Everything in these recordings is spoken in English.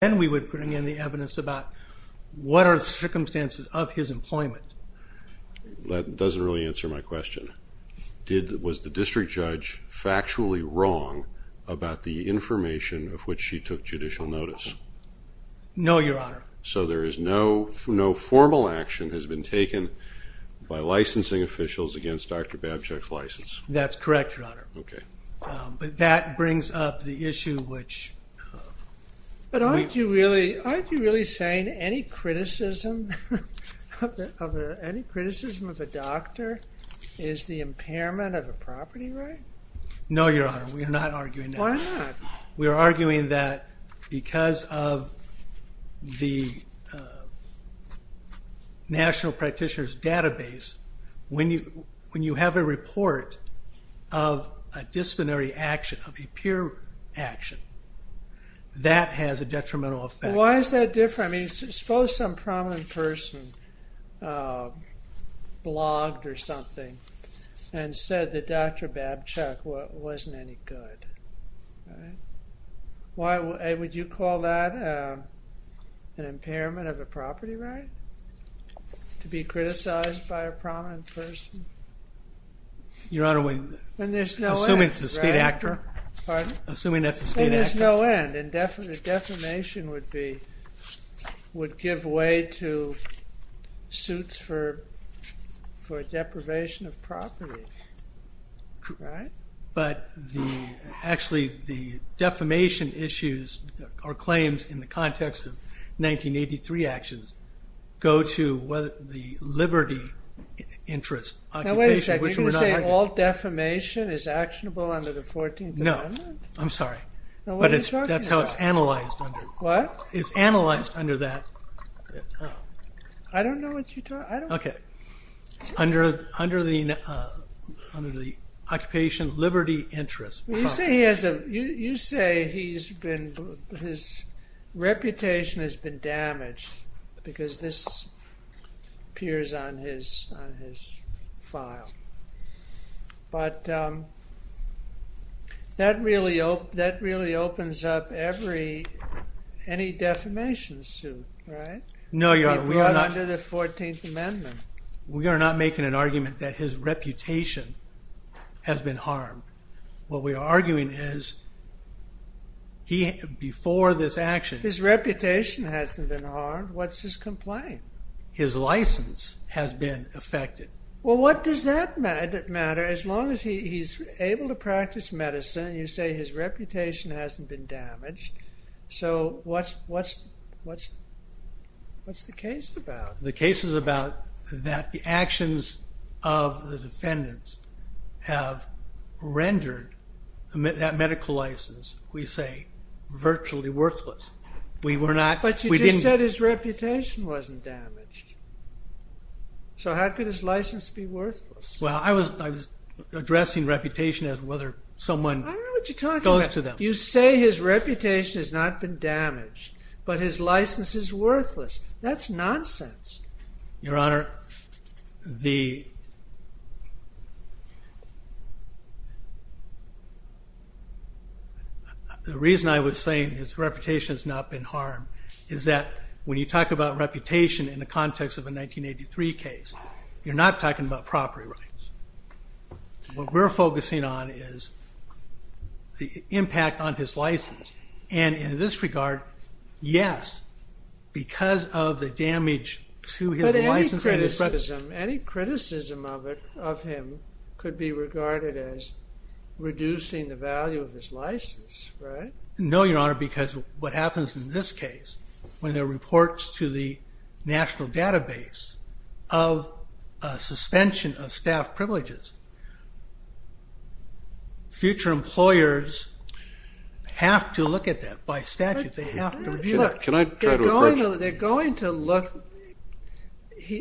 Then we would bring in the evidence about what are the circumstances of his employment. That doesn't really answer my question. Was the district judge factually wrong about the information of which she took judicial notice? No, Your Honor. So there is no formal action has been taken by licensing officials against Dr. Babchuk's license? That's correct, Your Honor. Okay. But that brings up the issue which... But aren't you really saying any criticism of a doctor is the impairment of a property right? No, Your Honor. We are not arguing that. Why not? We are arguing that because of the National Practitioner's Database, when you have a report of a disciplinary action, of a peer action, that has a detrimental effect. Why is that different? I mean, suppose some prominent person blogged or something and said that Dr. Babchuk wasn't any good. Would you call that an impairment of a property right? To be criticized by a prominent person? Your Honor, assuming it's a state actor. Assuming that's a state actor. There is no end. And defamation would give way to suits for deprivation of property. Right? But actually the defamation issues or claims in the context of 1983 actions go to the liberty interest occupation. Now wait a second. Are you going to say all defamation is actionable under the 14th Amendment? No. I'm sorry. But that's how it's analyzed. What? It's analyzed under that. I don't know what you're talking about. Okay. Under the occupation liberty interest. You say his reputation has been damaged because this appears on his file. But that really opens up any defamation suit. Right? No, Your Honor. Under the 14th Amendment. We are not making an argument that his reputation has been harmed. What we are arguing is before this action... His reputation hasn't been harmed. What's his complaint? His license has been affected. Well, what does that matter as long as he's able to practice medicine? You say his reputation hasn't been damaged. So what's the case about? The case is about that the actions of the defendants have rendered that medical license, we say, virtually worthless. But you just said his reputation wasn't damaged. So how could his license be worthless? Well, I was addressing reputation as whether someone... I don't know what you're talking about. ...goes to them. You say his reputation has not been damaged. But his license is worthless. That's nonsense. Your Honor, the reason I was saying his reputation has not been harmed is that when you talk about reputation in the context of a 1983 case, you're not talking about property rights. What we're focusing on is the impact on his license. And in this regard, yes, because of the damage to his license... But any criticism of him could be regarded as reducing the value of his license, right? No, Your Honor, because what happens in this case, when there are reports to the national database of suspension of staff privileges, future employers have to look at that by statute. They have to review that. Can I try to approach... They're going to look...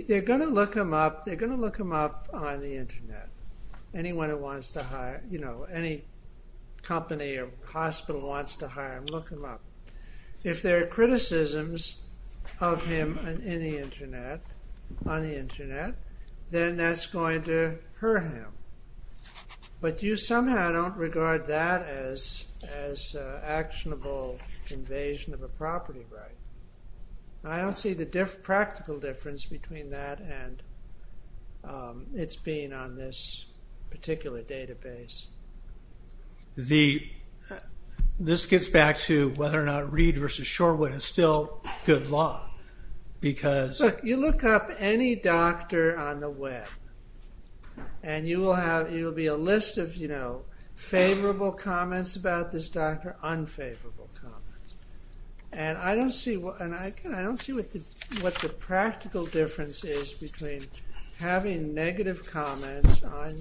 They're going to look him up on the Internet. Anyone who wants to hire... Any company or hospital wants to hire him, look him up. If there are criticisms of him in the Internet, on the Internet, then that's going to hurt him. But you somehow don't regard that as actionable invasion of a property right. I don't see the practical difference between that and its being on this particular database. This gets back to whether or not Reed v. Shorewood is still good law because... Look, you look up any doctor on the web, and you'll be a list of favorable comments about this doctor, unfavorable comments. And I don't see what the practical difference is between having negative comments on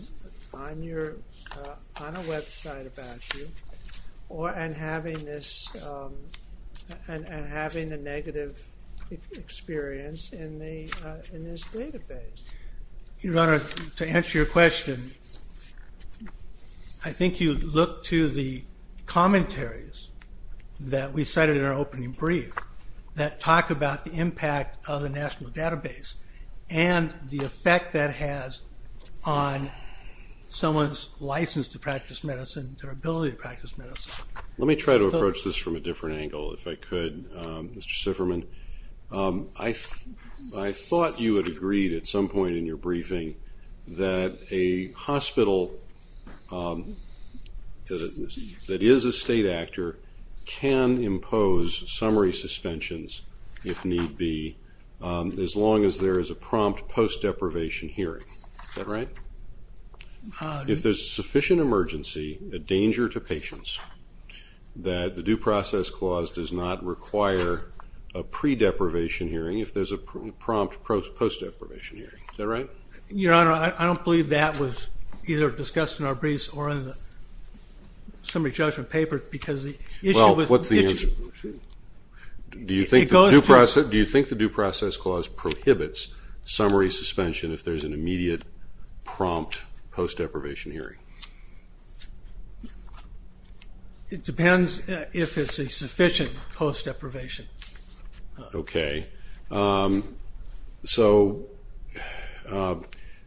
a website about you and having the negative experience in this database. I think you look to the commentaries that we cited in our opening brief that talk about the impact of the national database and the effect that has on someone's license to practice medicine, their ability to practice medicine. Let me try to approach this from a different angle, if I could, Mr. Sifferman. I thought you had agreed at some point in your briefing that a hospital that is a state actor can impose summary suspensions if need be as long as there is a prompt post-deprivation hearing. Is that right? If there's sufficient emergency, a danger to patients, that the Due Process Clause does not require a pre-deprivation hearing if there's a prompt post-deprivation hearing. Is that right? Your Honor, I don't believe that was either discussed in our briefs or in the summary judgment paper. Well, what's the answer? Do you think the Due Process Clause prohibits summary suspension if there's an immediate prompt post-deprivation hearing? It depends if it's a sufficient post-deprivation. Okay. So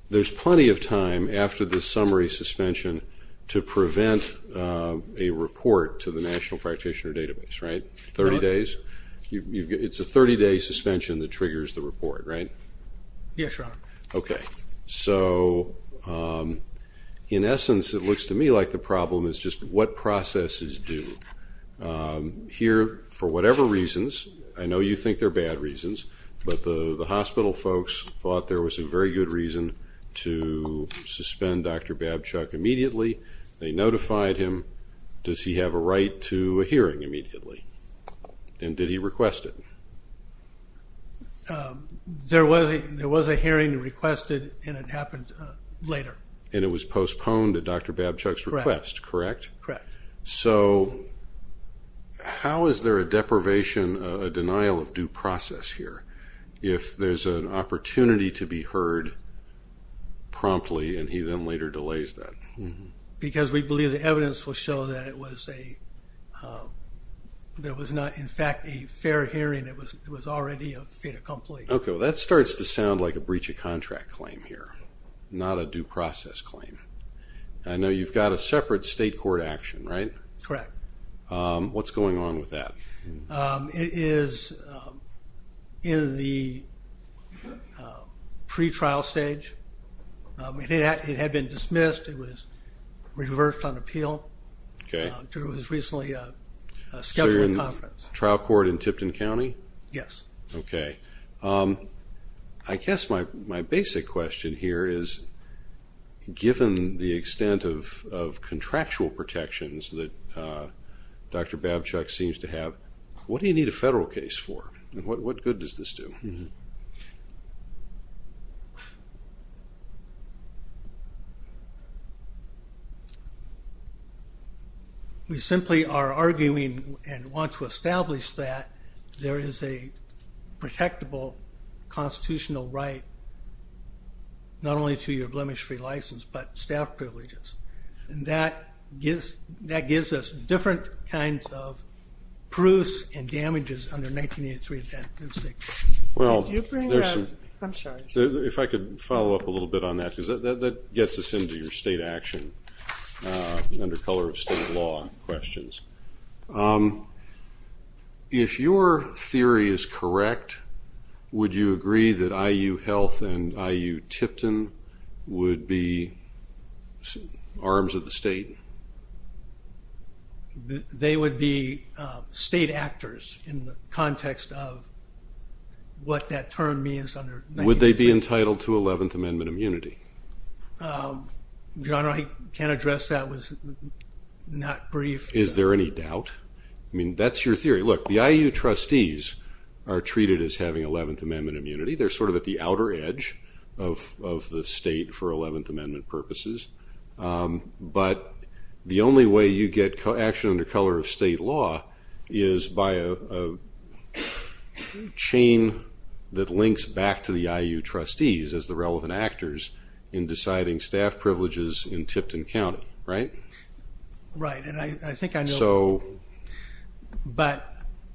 there's plenty of time after the summary suspension to prevent a report to the National Practitioner Database, right? 30 days? It's a 30-day suspension that triggers the report, right? Yes, Your Honor. Okay. So in essence, it looks to me like the problem is just what processes do. Here, for whatever reasons, I know you think they're bad reasons, but the hospital folks thought there was a very good reason to suspend Dr. Babchuk immediately. They notified him. Does he have a right to a hearing immediately? And did he request it? There was a hearing requested, and it happened later. And it was postponed at Dr. Babchuk's request, correct? Correct. So how is there a deprivation, a denial of due process here if there's an opportunity to be heard promptly, and he then later delays that? Because we believe the evidence will show that it was not, in fact, a fair hearing. It was already a fait accompli. Okay. Well, that starts to sound like a breach of contract claim here, not a due process claim. I know you've got a separate state court action, right? Correct. What's going on with that? It is in the pre-trial stage. It had been dismissed. It was reversed on appeal. Okay. It was recently scheduled for conference. So you're in trial court in Tipton County? Yes. Okay. I guess my basic question here is, given the extent of contractual protections that Dr. Babchuk seems to have, what do you need a federal case for, and what good does this do? We simply are arguing and want to establish that there is a protectable constitutional right not only to your blemish-free license, but staff privileges. And that gives us different kinds of proofs and damages under 1983. Well, if I could follow up a little bit on that, because that gets us into your state action under color of state law questions. If your theory is correct, would you agree that IU Health and IU Tipton would be arms of the state? They would be state actors in the context of what that term means under 1983. Would they be entitled to 11th Amendment immunity? John, I can't address that. It was not brief. Is there any doubt? I mean, that's your theory. Look, the IU trustees are treated as having 11th Amendment immunity. They're sort of at the outer edge of the state for 11th Amendment purposes. But the only way you get action under color of state law is by a chain that links back to the IU trustees as the relevant actors in deciding staff privileges in Tipton County, right? Right. And I think I know, but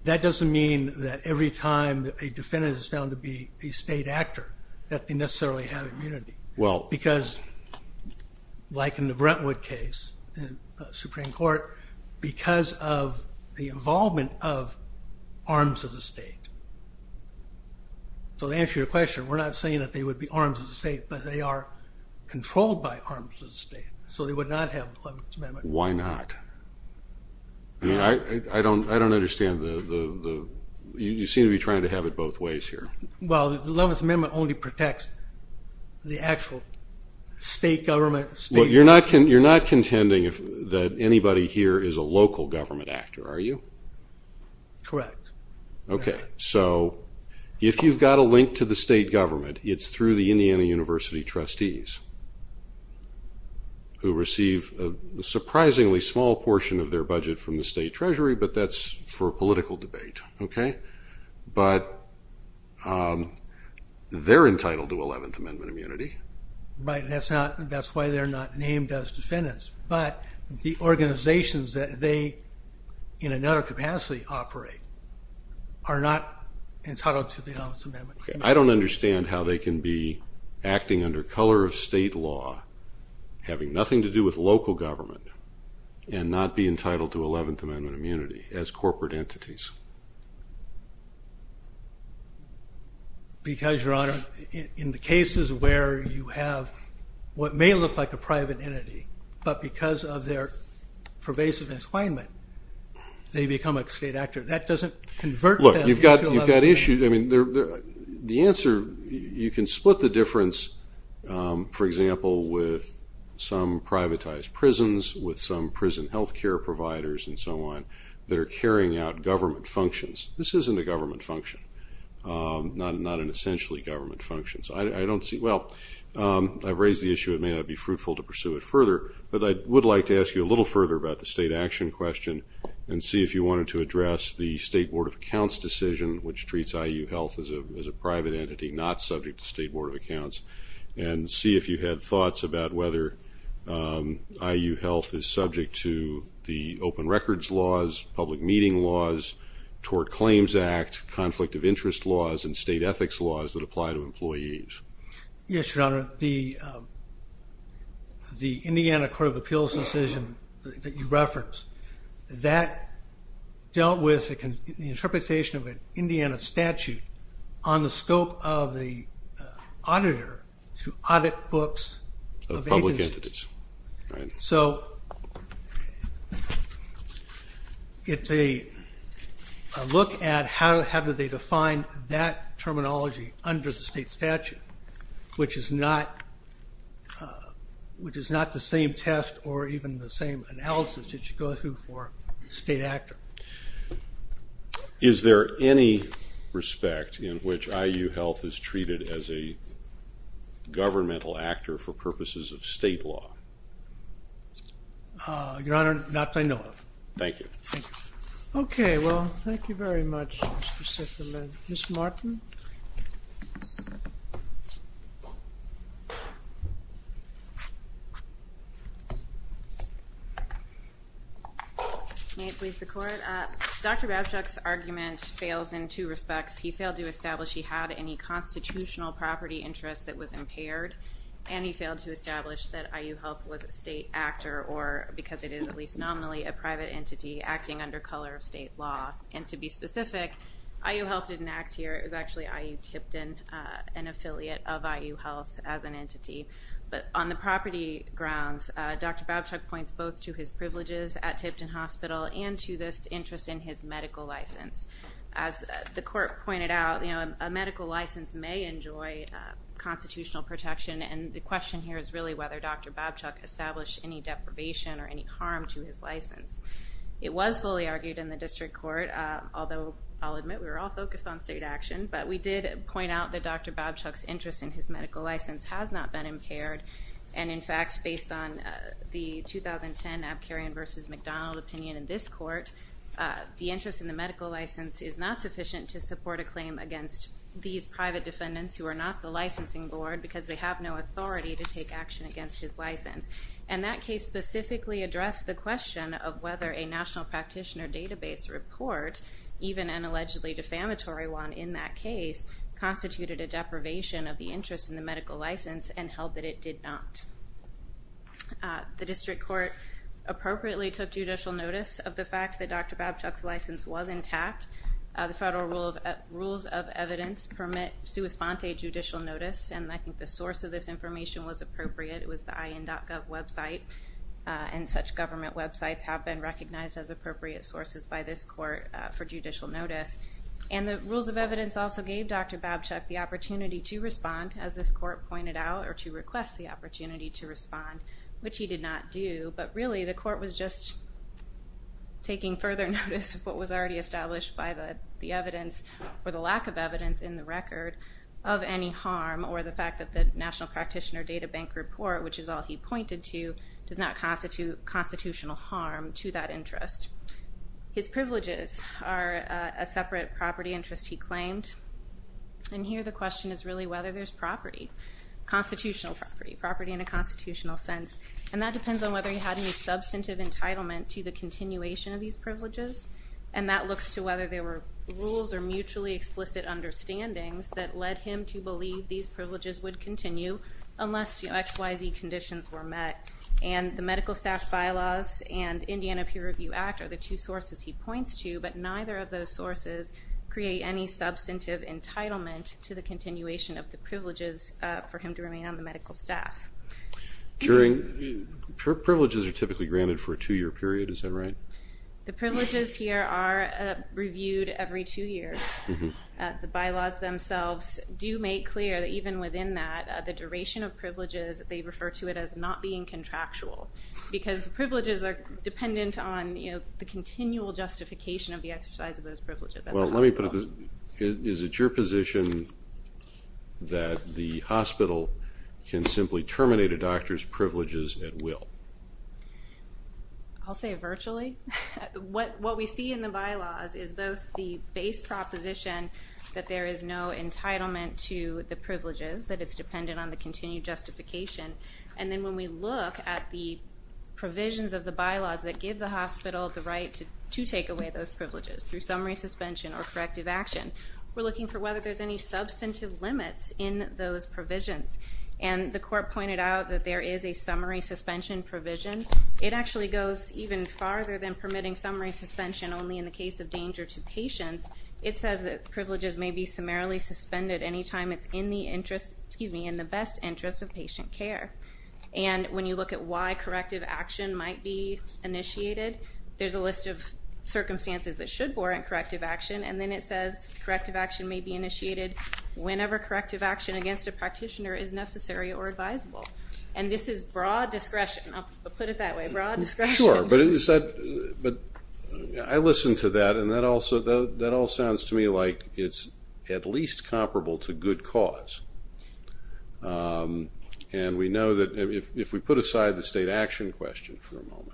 that doesn't mean that every time a defendant is found to be a state actor, that they necessarily have immunity. Because, like in the Brentwood case in the Supreme Court, because of the involvement of arms of the state. So to answer your question, we're not saying that they would be arms of the state, but they are controlled by arms of the state. So they would not have 11th Amendment immunity. Why not? I mean, I don't understand the – you seem to be trying to have it both ways here. Well, the 11th Amendment only protects the actual state government. You're not contending that anybody here is a local government actor, are you? Correct. Okay. So if you've got a link to the state government, it's through the Indiana University trustees who receive a surprisingly small portion of their budget from the state treasury, but that's for a political debate, okay? But they're entitled to 11th Amendment immunity. Right, and that's why they're not named as defendants. But the organizations that they, in another capacity, operate, are not entitled to the 11th Amendment immunity. I don't understand how they can be acting under color of state law, having nothing to do with local government, and not be entitled to 11th Amendment immunity as corporate entities. Because, Your Honor, in the cases where you have what may look like a private entity, but because of their pervasive enslavement, they become a state actor. That doesn't convert them into 11th Amendment. Look, you've got issues. I mean, the answer, you can split the difference, for example, with some privatized prisons, with some prison health care providers, and so on, that are carrying out government functions. This isn't a government function, not an essentially government function. Well, I've raised the issue. It may not be fruitful to pursue it further, but I would like to ask you a little further about the state action question and see if you wanted to address the State Board of Accounts decision, which treats IU Health as a private entity, not subject to State Board of Accounts, and see if you had thoughts about whether IU Health is subject to the open records laws, public meeting laws, Tort Claims Act, conflict of interest laws, and state ethics laws that apply to employees. Yes, Your Honor. The Indiana Court of Appeals decision that you referenced, that dealt with the interpretation of an Indiana statute on the scope of the auditor to audit books of agencies. Of public entities. Right. So it's a look at how do they define that terminology under the state statute, which is not the same test or even the same analysis that you go through for a state actor. Is there any respect in which IU Health is treated as a governmental actor for purposes of state law? Your Honor, not that I know of. Thank you. Okay. Well, thank you very much, Mr. Sifferman. Ms. Martin? May it please the Court? Dr. Babchuk's argument fails in two respects. He failed to establish he had any constitutional property interest that was impaired, and he failed to establish that IU Health was a state actor, or because it is at least nominally a private entity, acting under color of state law. And to be specific, IU Health didn't act here. It was actually IU Tipton, an affiliate of IU Health as an entity. But on the property grounds, Dr. Babchuk points both to his privileges at Tipton Hospital and to this interest in his medical license. As the Court pointed out, you know, a medical license may enjoy constitutional protection, and the question here is really whether Dr. Babchuk established any deprivation or any harm to his license. It was fully argued in the District Court, although I'll admit we were all focused on state action. But we did point out that Dr. Babchuk's interest in his medical license has not been impaired. And, in fact, based on the 2010 Abkarian v. McDonald opinion in this Court, the interest in the medical license is not sufficient to support a claim against these private defendants who are not the licensing board because they have no authority to take action against his license. And that case specifically addressed the question of whether a National Practitioner Database report, even an allegedly defamatory one in that case, constituted a deprivation of the interest in the medical license and held that it did not. The District Court appropriately took judicial notice of the fact that Dr. Babchuk's license was intact. The federal rules of evidence permit sua sponte judicial notice, and I think the source of this information was appropriate. It was the IN.gov website, and such government websites have been recognized as appropriate sources by this Court for judicial notice. And the rules of evidence also gave Dr. Babchuk the opportunity to respond, as this Court pointed out, or to request the opportunity to respond, which he did not do. But really the Court was just taking further notice of what was already established by the evidence or the lack of evidence in the record of any harm or the fact that the National Practitioner Databank report, which is all he pointed to, does not constitute constitutional harm to that interest. His privileges are a separate property interest he claimed. And here the question is really whether there's property, constitutional property, property in a constitutional sense. And that depends on whether he had any substantive entitlement to the continuation of these privileges. And that looks to whether there were rules or mutually explicit understandings that led him to believe these privileges would continue unless XYZ conditions were met. And the Medical Staff Bylaws and Indiana Peer Review Act are the two sources he points to, but neither of those sources create any substantive entitlement to the continuation of the privileges for him to remain on the medical staff. Privileges are typically granted for a two-year period. Is that right? The privileges here are reviewed every two years. The bylaws themselves do make clear that even within that the duration of privileges, they refer to it as not being contractual because the privileges are dependent on the continual justification of the exercise of those privileges. Well, let me put it this way. Is it your position that the hospital can simply terminate a doctor's privileges at will? I'll say virtually. What we see in the bylaws is both the base proposition that there is no entitlement to the privileges, that it's dependent on the continued justification, and then when we look at the provisions of the bylaws that give the hospital the right to take away those privileges through summary suspension or corrective action, we're looking for whether there's any substantive limits in those provisions. And the court pointed out that there is a summary suspension provision. It actually goes even farther than permitting summary suspension only in the case of danger to patients. It says that privileges may be summarily suspended any time it's in the best interest of patient care. And when you look at why corrective action might be initiated, there's a list of circumstances that should warrant corrective action. And then it says corrective action may be initiated whenever corrective action against a practitioner is necessary or advisable. And this is broad discretion. I'll put it that way, broad discretion. Sure, but I listen to that, and that all sounds to me like it's at least comparable to good cause. And we know that if we put aside the state action question for a moment,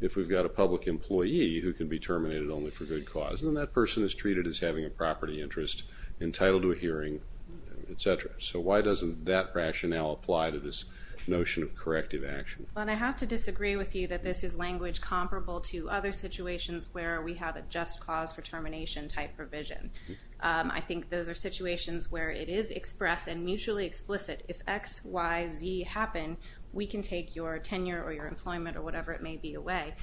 if we've got a public employee who can be terminated only for good cause, then that person is treated as having a property interest entitled to a hearing, et cetera. So why doesn't that rationale apply to this notion of corrective action? Well, and I have to disagree with you that this is language comparable to other situations where we have a just cause for termination type provision. I think those are situations where it is expressed and mutually explicit. If X, Y, Z happen, we can take your tenure or your employment or whatever it may be away.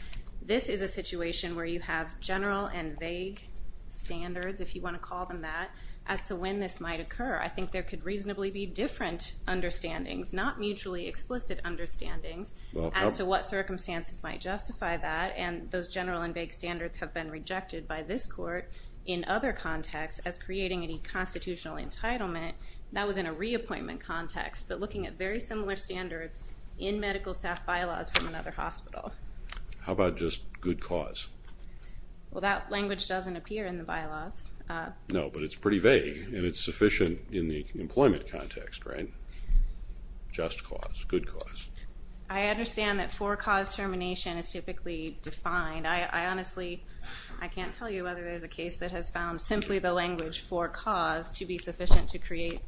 This is a situation where you have general and vague standards, if you want to call them that, as to when this might occur. I think there could reasonably be different understandings, not mutually explicit understandings, as to what circumstances might justify that. And those general and vague standards have been rejected by this court in other contexts as creating any constitutional entitlement. That was in a reappointment context, but looking at very similar standards in medical staff bylaws from another hospital. How about just good cause? Well, that language doesn't appear in the bylaws. No, but it's pretty vague, and it's sufficient in the employment context, right? Just cause, good cause. I understand that for cause termination is typically defined. I honestly, I can't tell you whether there's a case that has found simply the language for cause to be sufficient to create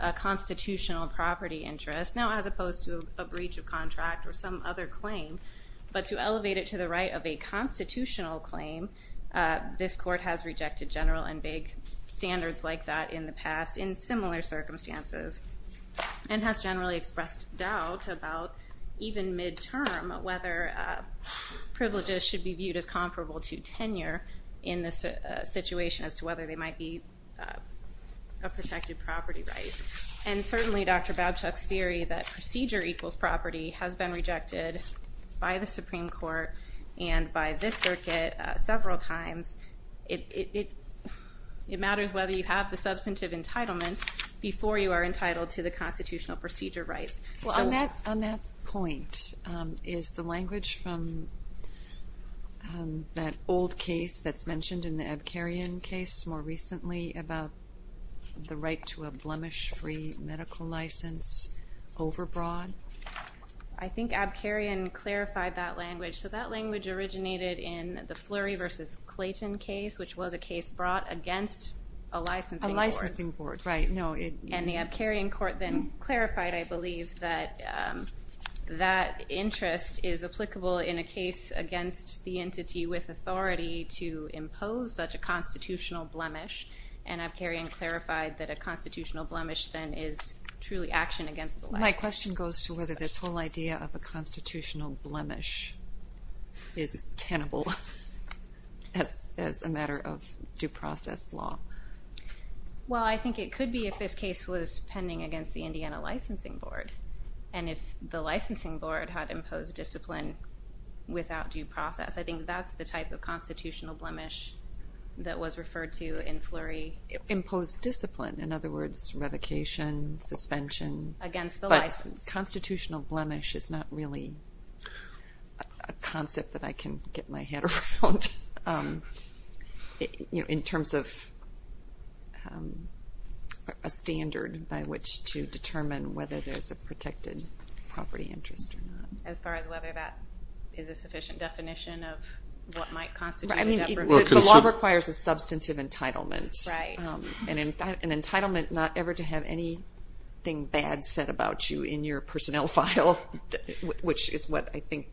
a constitutional property interest. Now, as opposed to a breach of contract or some other claim, but to elevate it to the right of a constitutional claim, this court has rejected general and vague standards like that in the past in similar circumstances and has generally expressed doubt about even midterm whether privileges should be viewed as comparable to tenure in this situation as to whether they might be a protected property right. And certainly, Dr. Babchuk's theory that procedure equals property has been rejected by the court several times. It matters whether you have the substantive entitlement before you are entitled to the constitutional procedure rights. Well, on that point, is the language from that old case that's mentioned in the Abkarian case more recently about the right to a blemish-free medical license overbroad? I think Abkarian clarified that language. So that language originated in the Flurry v. Clayton case, which was a case brought against a licensing board. A licensing board, right. And the Abkarian court then clarified, I believe, that that interest is applicable in a case against the entity with authority to impose such a constitutional blemish. And Abkarian clarified that a constitutional blemish then is truly action against the license. My question goes to whether this whole idea of a constitutional blemish is tenable as a matter of due process law. Well, I think it could be if this case was pending against the Indiana licensing board. And if the licensing board had imposed discipline without due process, I think that's the type of constitutional blemish that was referred to in Flurry. Imposed discipline. In other words, revocation, suspension. Against the license. But constitutional blemish is not really a concept that I can get my head around in terms of a standard by which to determine whether there's a protected property interest or not. As far as whether that is a sufficient definition of what might constitute a jeopardy. The law requires a substantive entitlement. Right. An entitlement not ever to have anything bad said about you in your personnel file. Which is what I think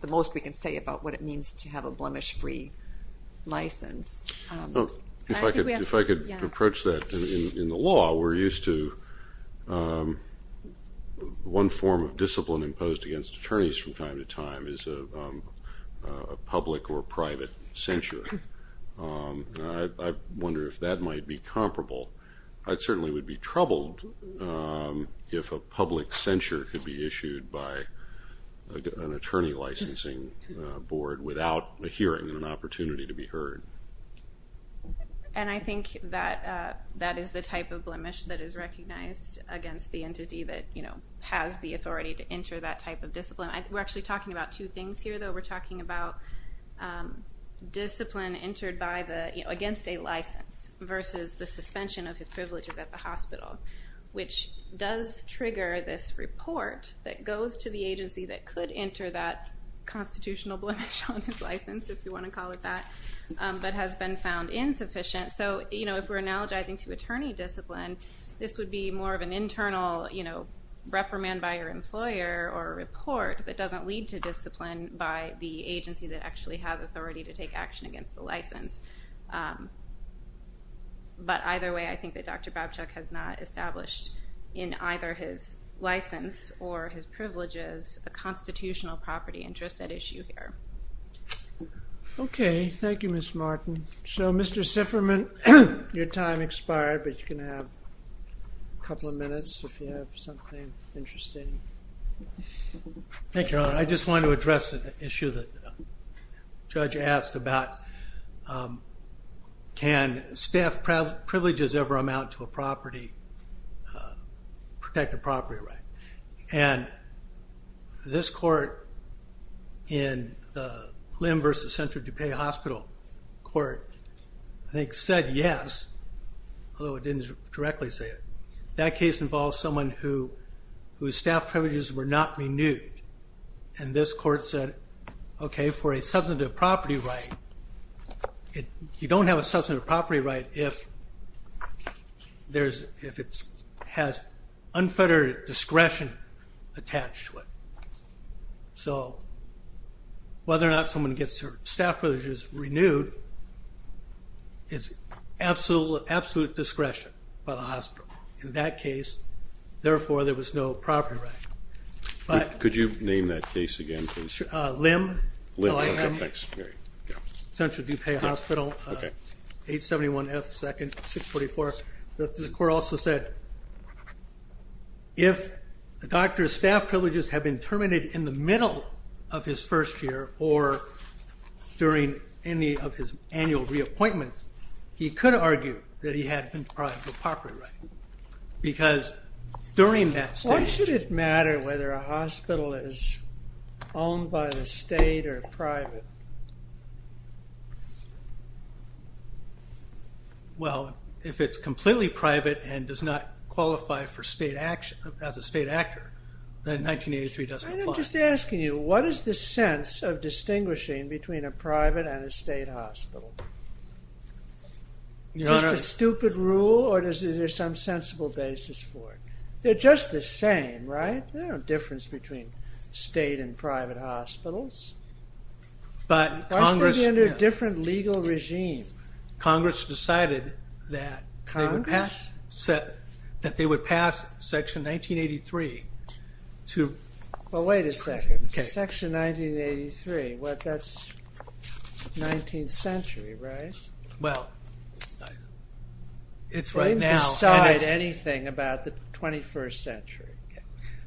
the most we can say about what it means to have a blemish free license. If I could approach that in the law, we're used to one form of discipline imposed against attorneys from time to time is a public or private censure. I wonder if that might be comparable. I certainly would be troubled if a public censure could be issued by an attorney licensing board without a hearing and an opportunity to be heard. And I think that that is the type of blemish that is recognized against the entity that has the authority to enter that type of discipline. We're actually talking about two things here, though. We're talking about discipline entered against a license versus the suspension of his privileges at the hospital, which does trigger this report that goes to the agency that could enter that constitutional blemish on his license, if you want to call it that, but has been found insufficient. If we're analogizing to attorney discipline, this would be more of an internal reprimand by your employer or a report that doesn't lead to discipline by the agency that actually has authority to take action against the license. But either way, I think that Dr. Babchuk has not established in either his license or his privileges a constitutional property interest at issue here. Okay. Thank you, Ms. Martin. So, Mr. Sifferman, your time expired, but you can have a couple of minutes if you have something interesting. Thank you, Your Honor. I just wanted to address an issue that the judge asked about, can staff privileges ever amount to a protected property right? And this court in the Limb versus Central DuPage Hospital Court, I think said yes, although it didn't directly say it. That case involves someone whose staff privileges were not renewed. And this court said, okay, for a substantive property right, you don't have a substantive property right if it has unfettered discretion attached to it. So whether or not someone gets their staff privileges renewed is absolute discretion by the hospital. In that case, therefore, there was no property right. Could you name that case again, please? Limb, L-I-M-B. Central DuPage Hospital, 871 F 2nd 644. This court also said if the doctor's staff privileges have been terminated in the middle of his first year or during any of his annual reappointments, he could argue that he had deprived the property right. Because during that stage... Why should it matter whether a hospital is owned by the state or private? Well, if it's completely private and does not qualify as a state actor, then 1983 doesn't apply. I'm just asking you, what is the sense of distinguishing between a private and a state hospital? Just a stupid rule or is there some sensible basis for it? They're just the same, right? There's no difference between state and private hospitals. Why should they be under a different legal regime? Congress decided that they would pass Section 1983 to... Well, wait a second. Section 1983, that's 19th century, right? Well, it's right now... They didn't decide anything about the 21st century.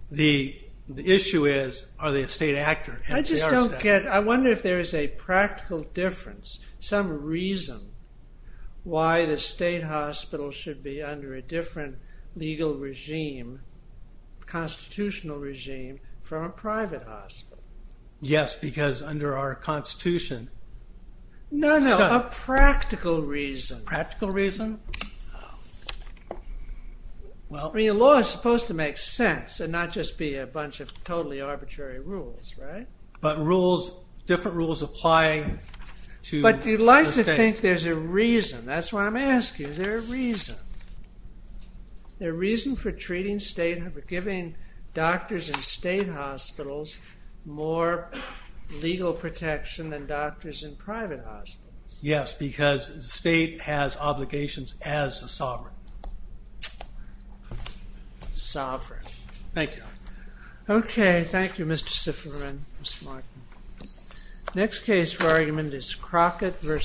The issue is are they a state actor? I just don't get it. I wonder if there is a practical difference, some reason why the state hospital should be under a different legal regime, constitutional regime, from a private hospital. Yes, because under our Constitution... No, no, a practical reason. Practical reason? I mean, the law is supposed to make sense and not just be a bunch of totally arbitrary rules, right? But different rules apply to the state. But you'd like to think there's a reason. That's what I'm asking. Is there a reason? Is there a reason for treating state and for giving doctors in state hospitals more legal protection than doctors in private hospitals? Yes, because the state has obligations as the sovereign. Sovereign. Thank you. Okay, thank you, Mr. Zifferman, Ms. Martin. Next case for argument is Crockett v.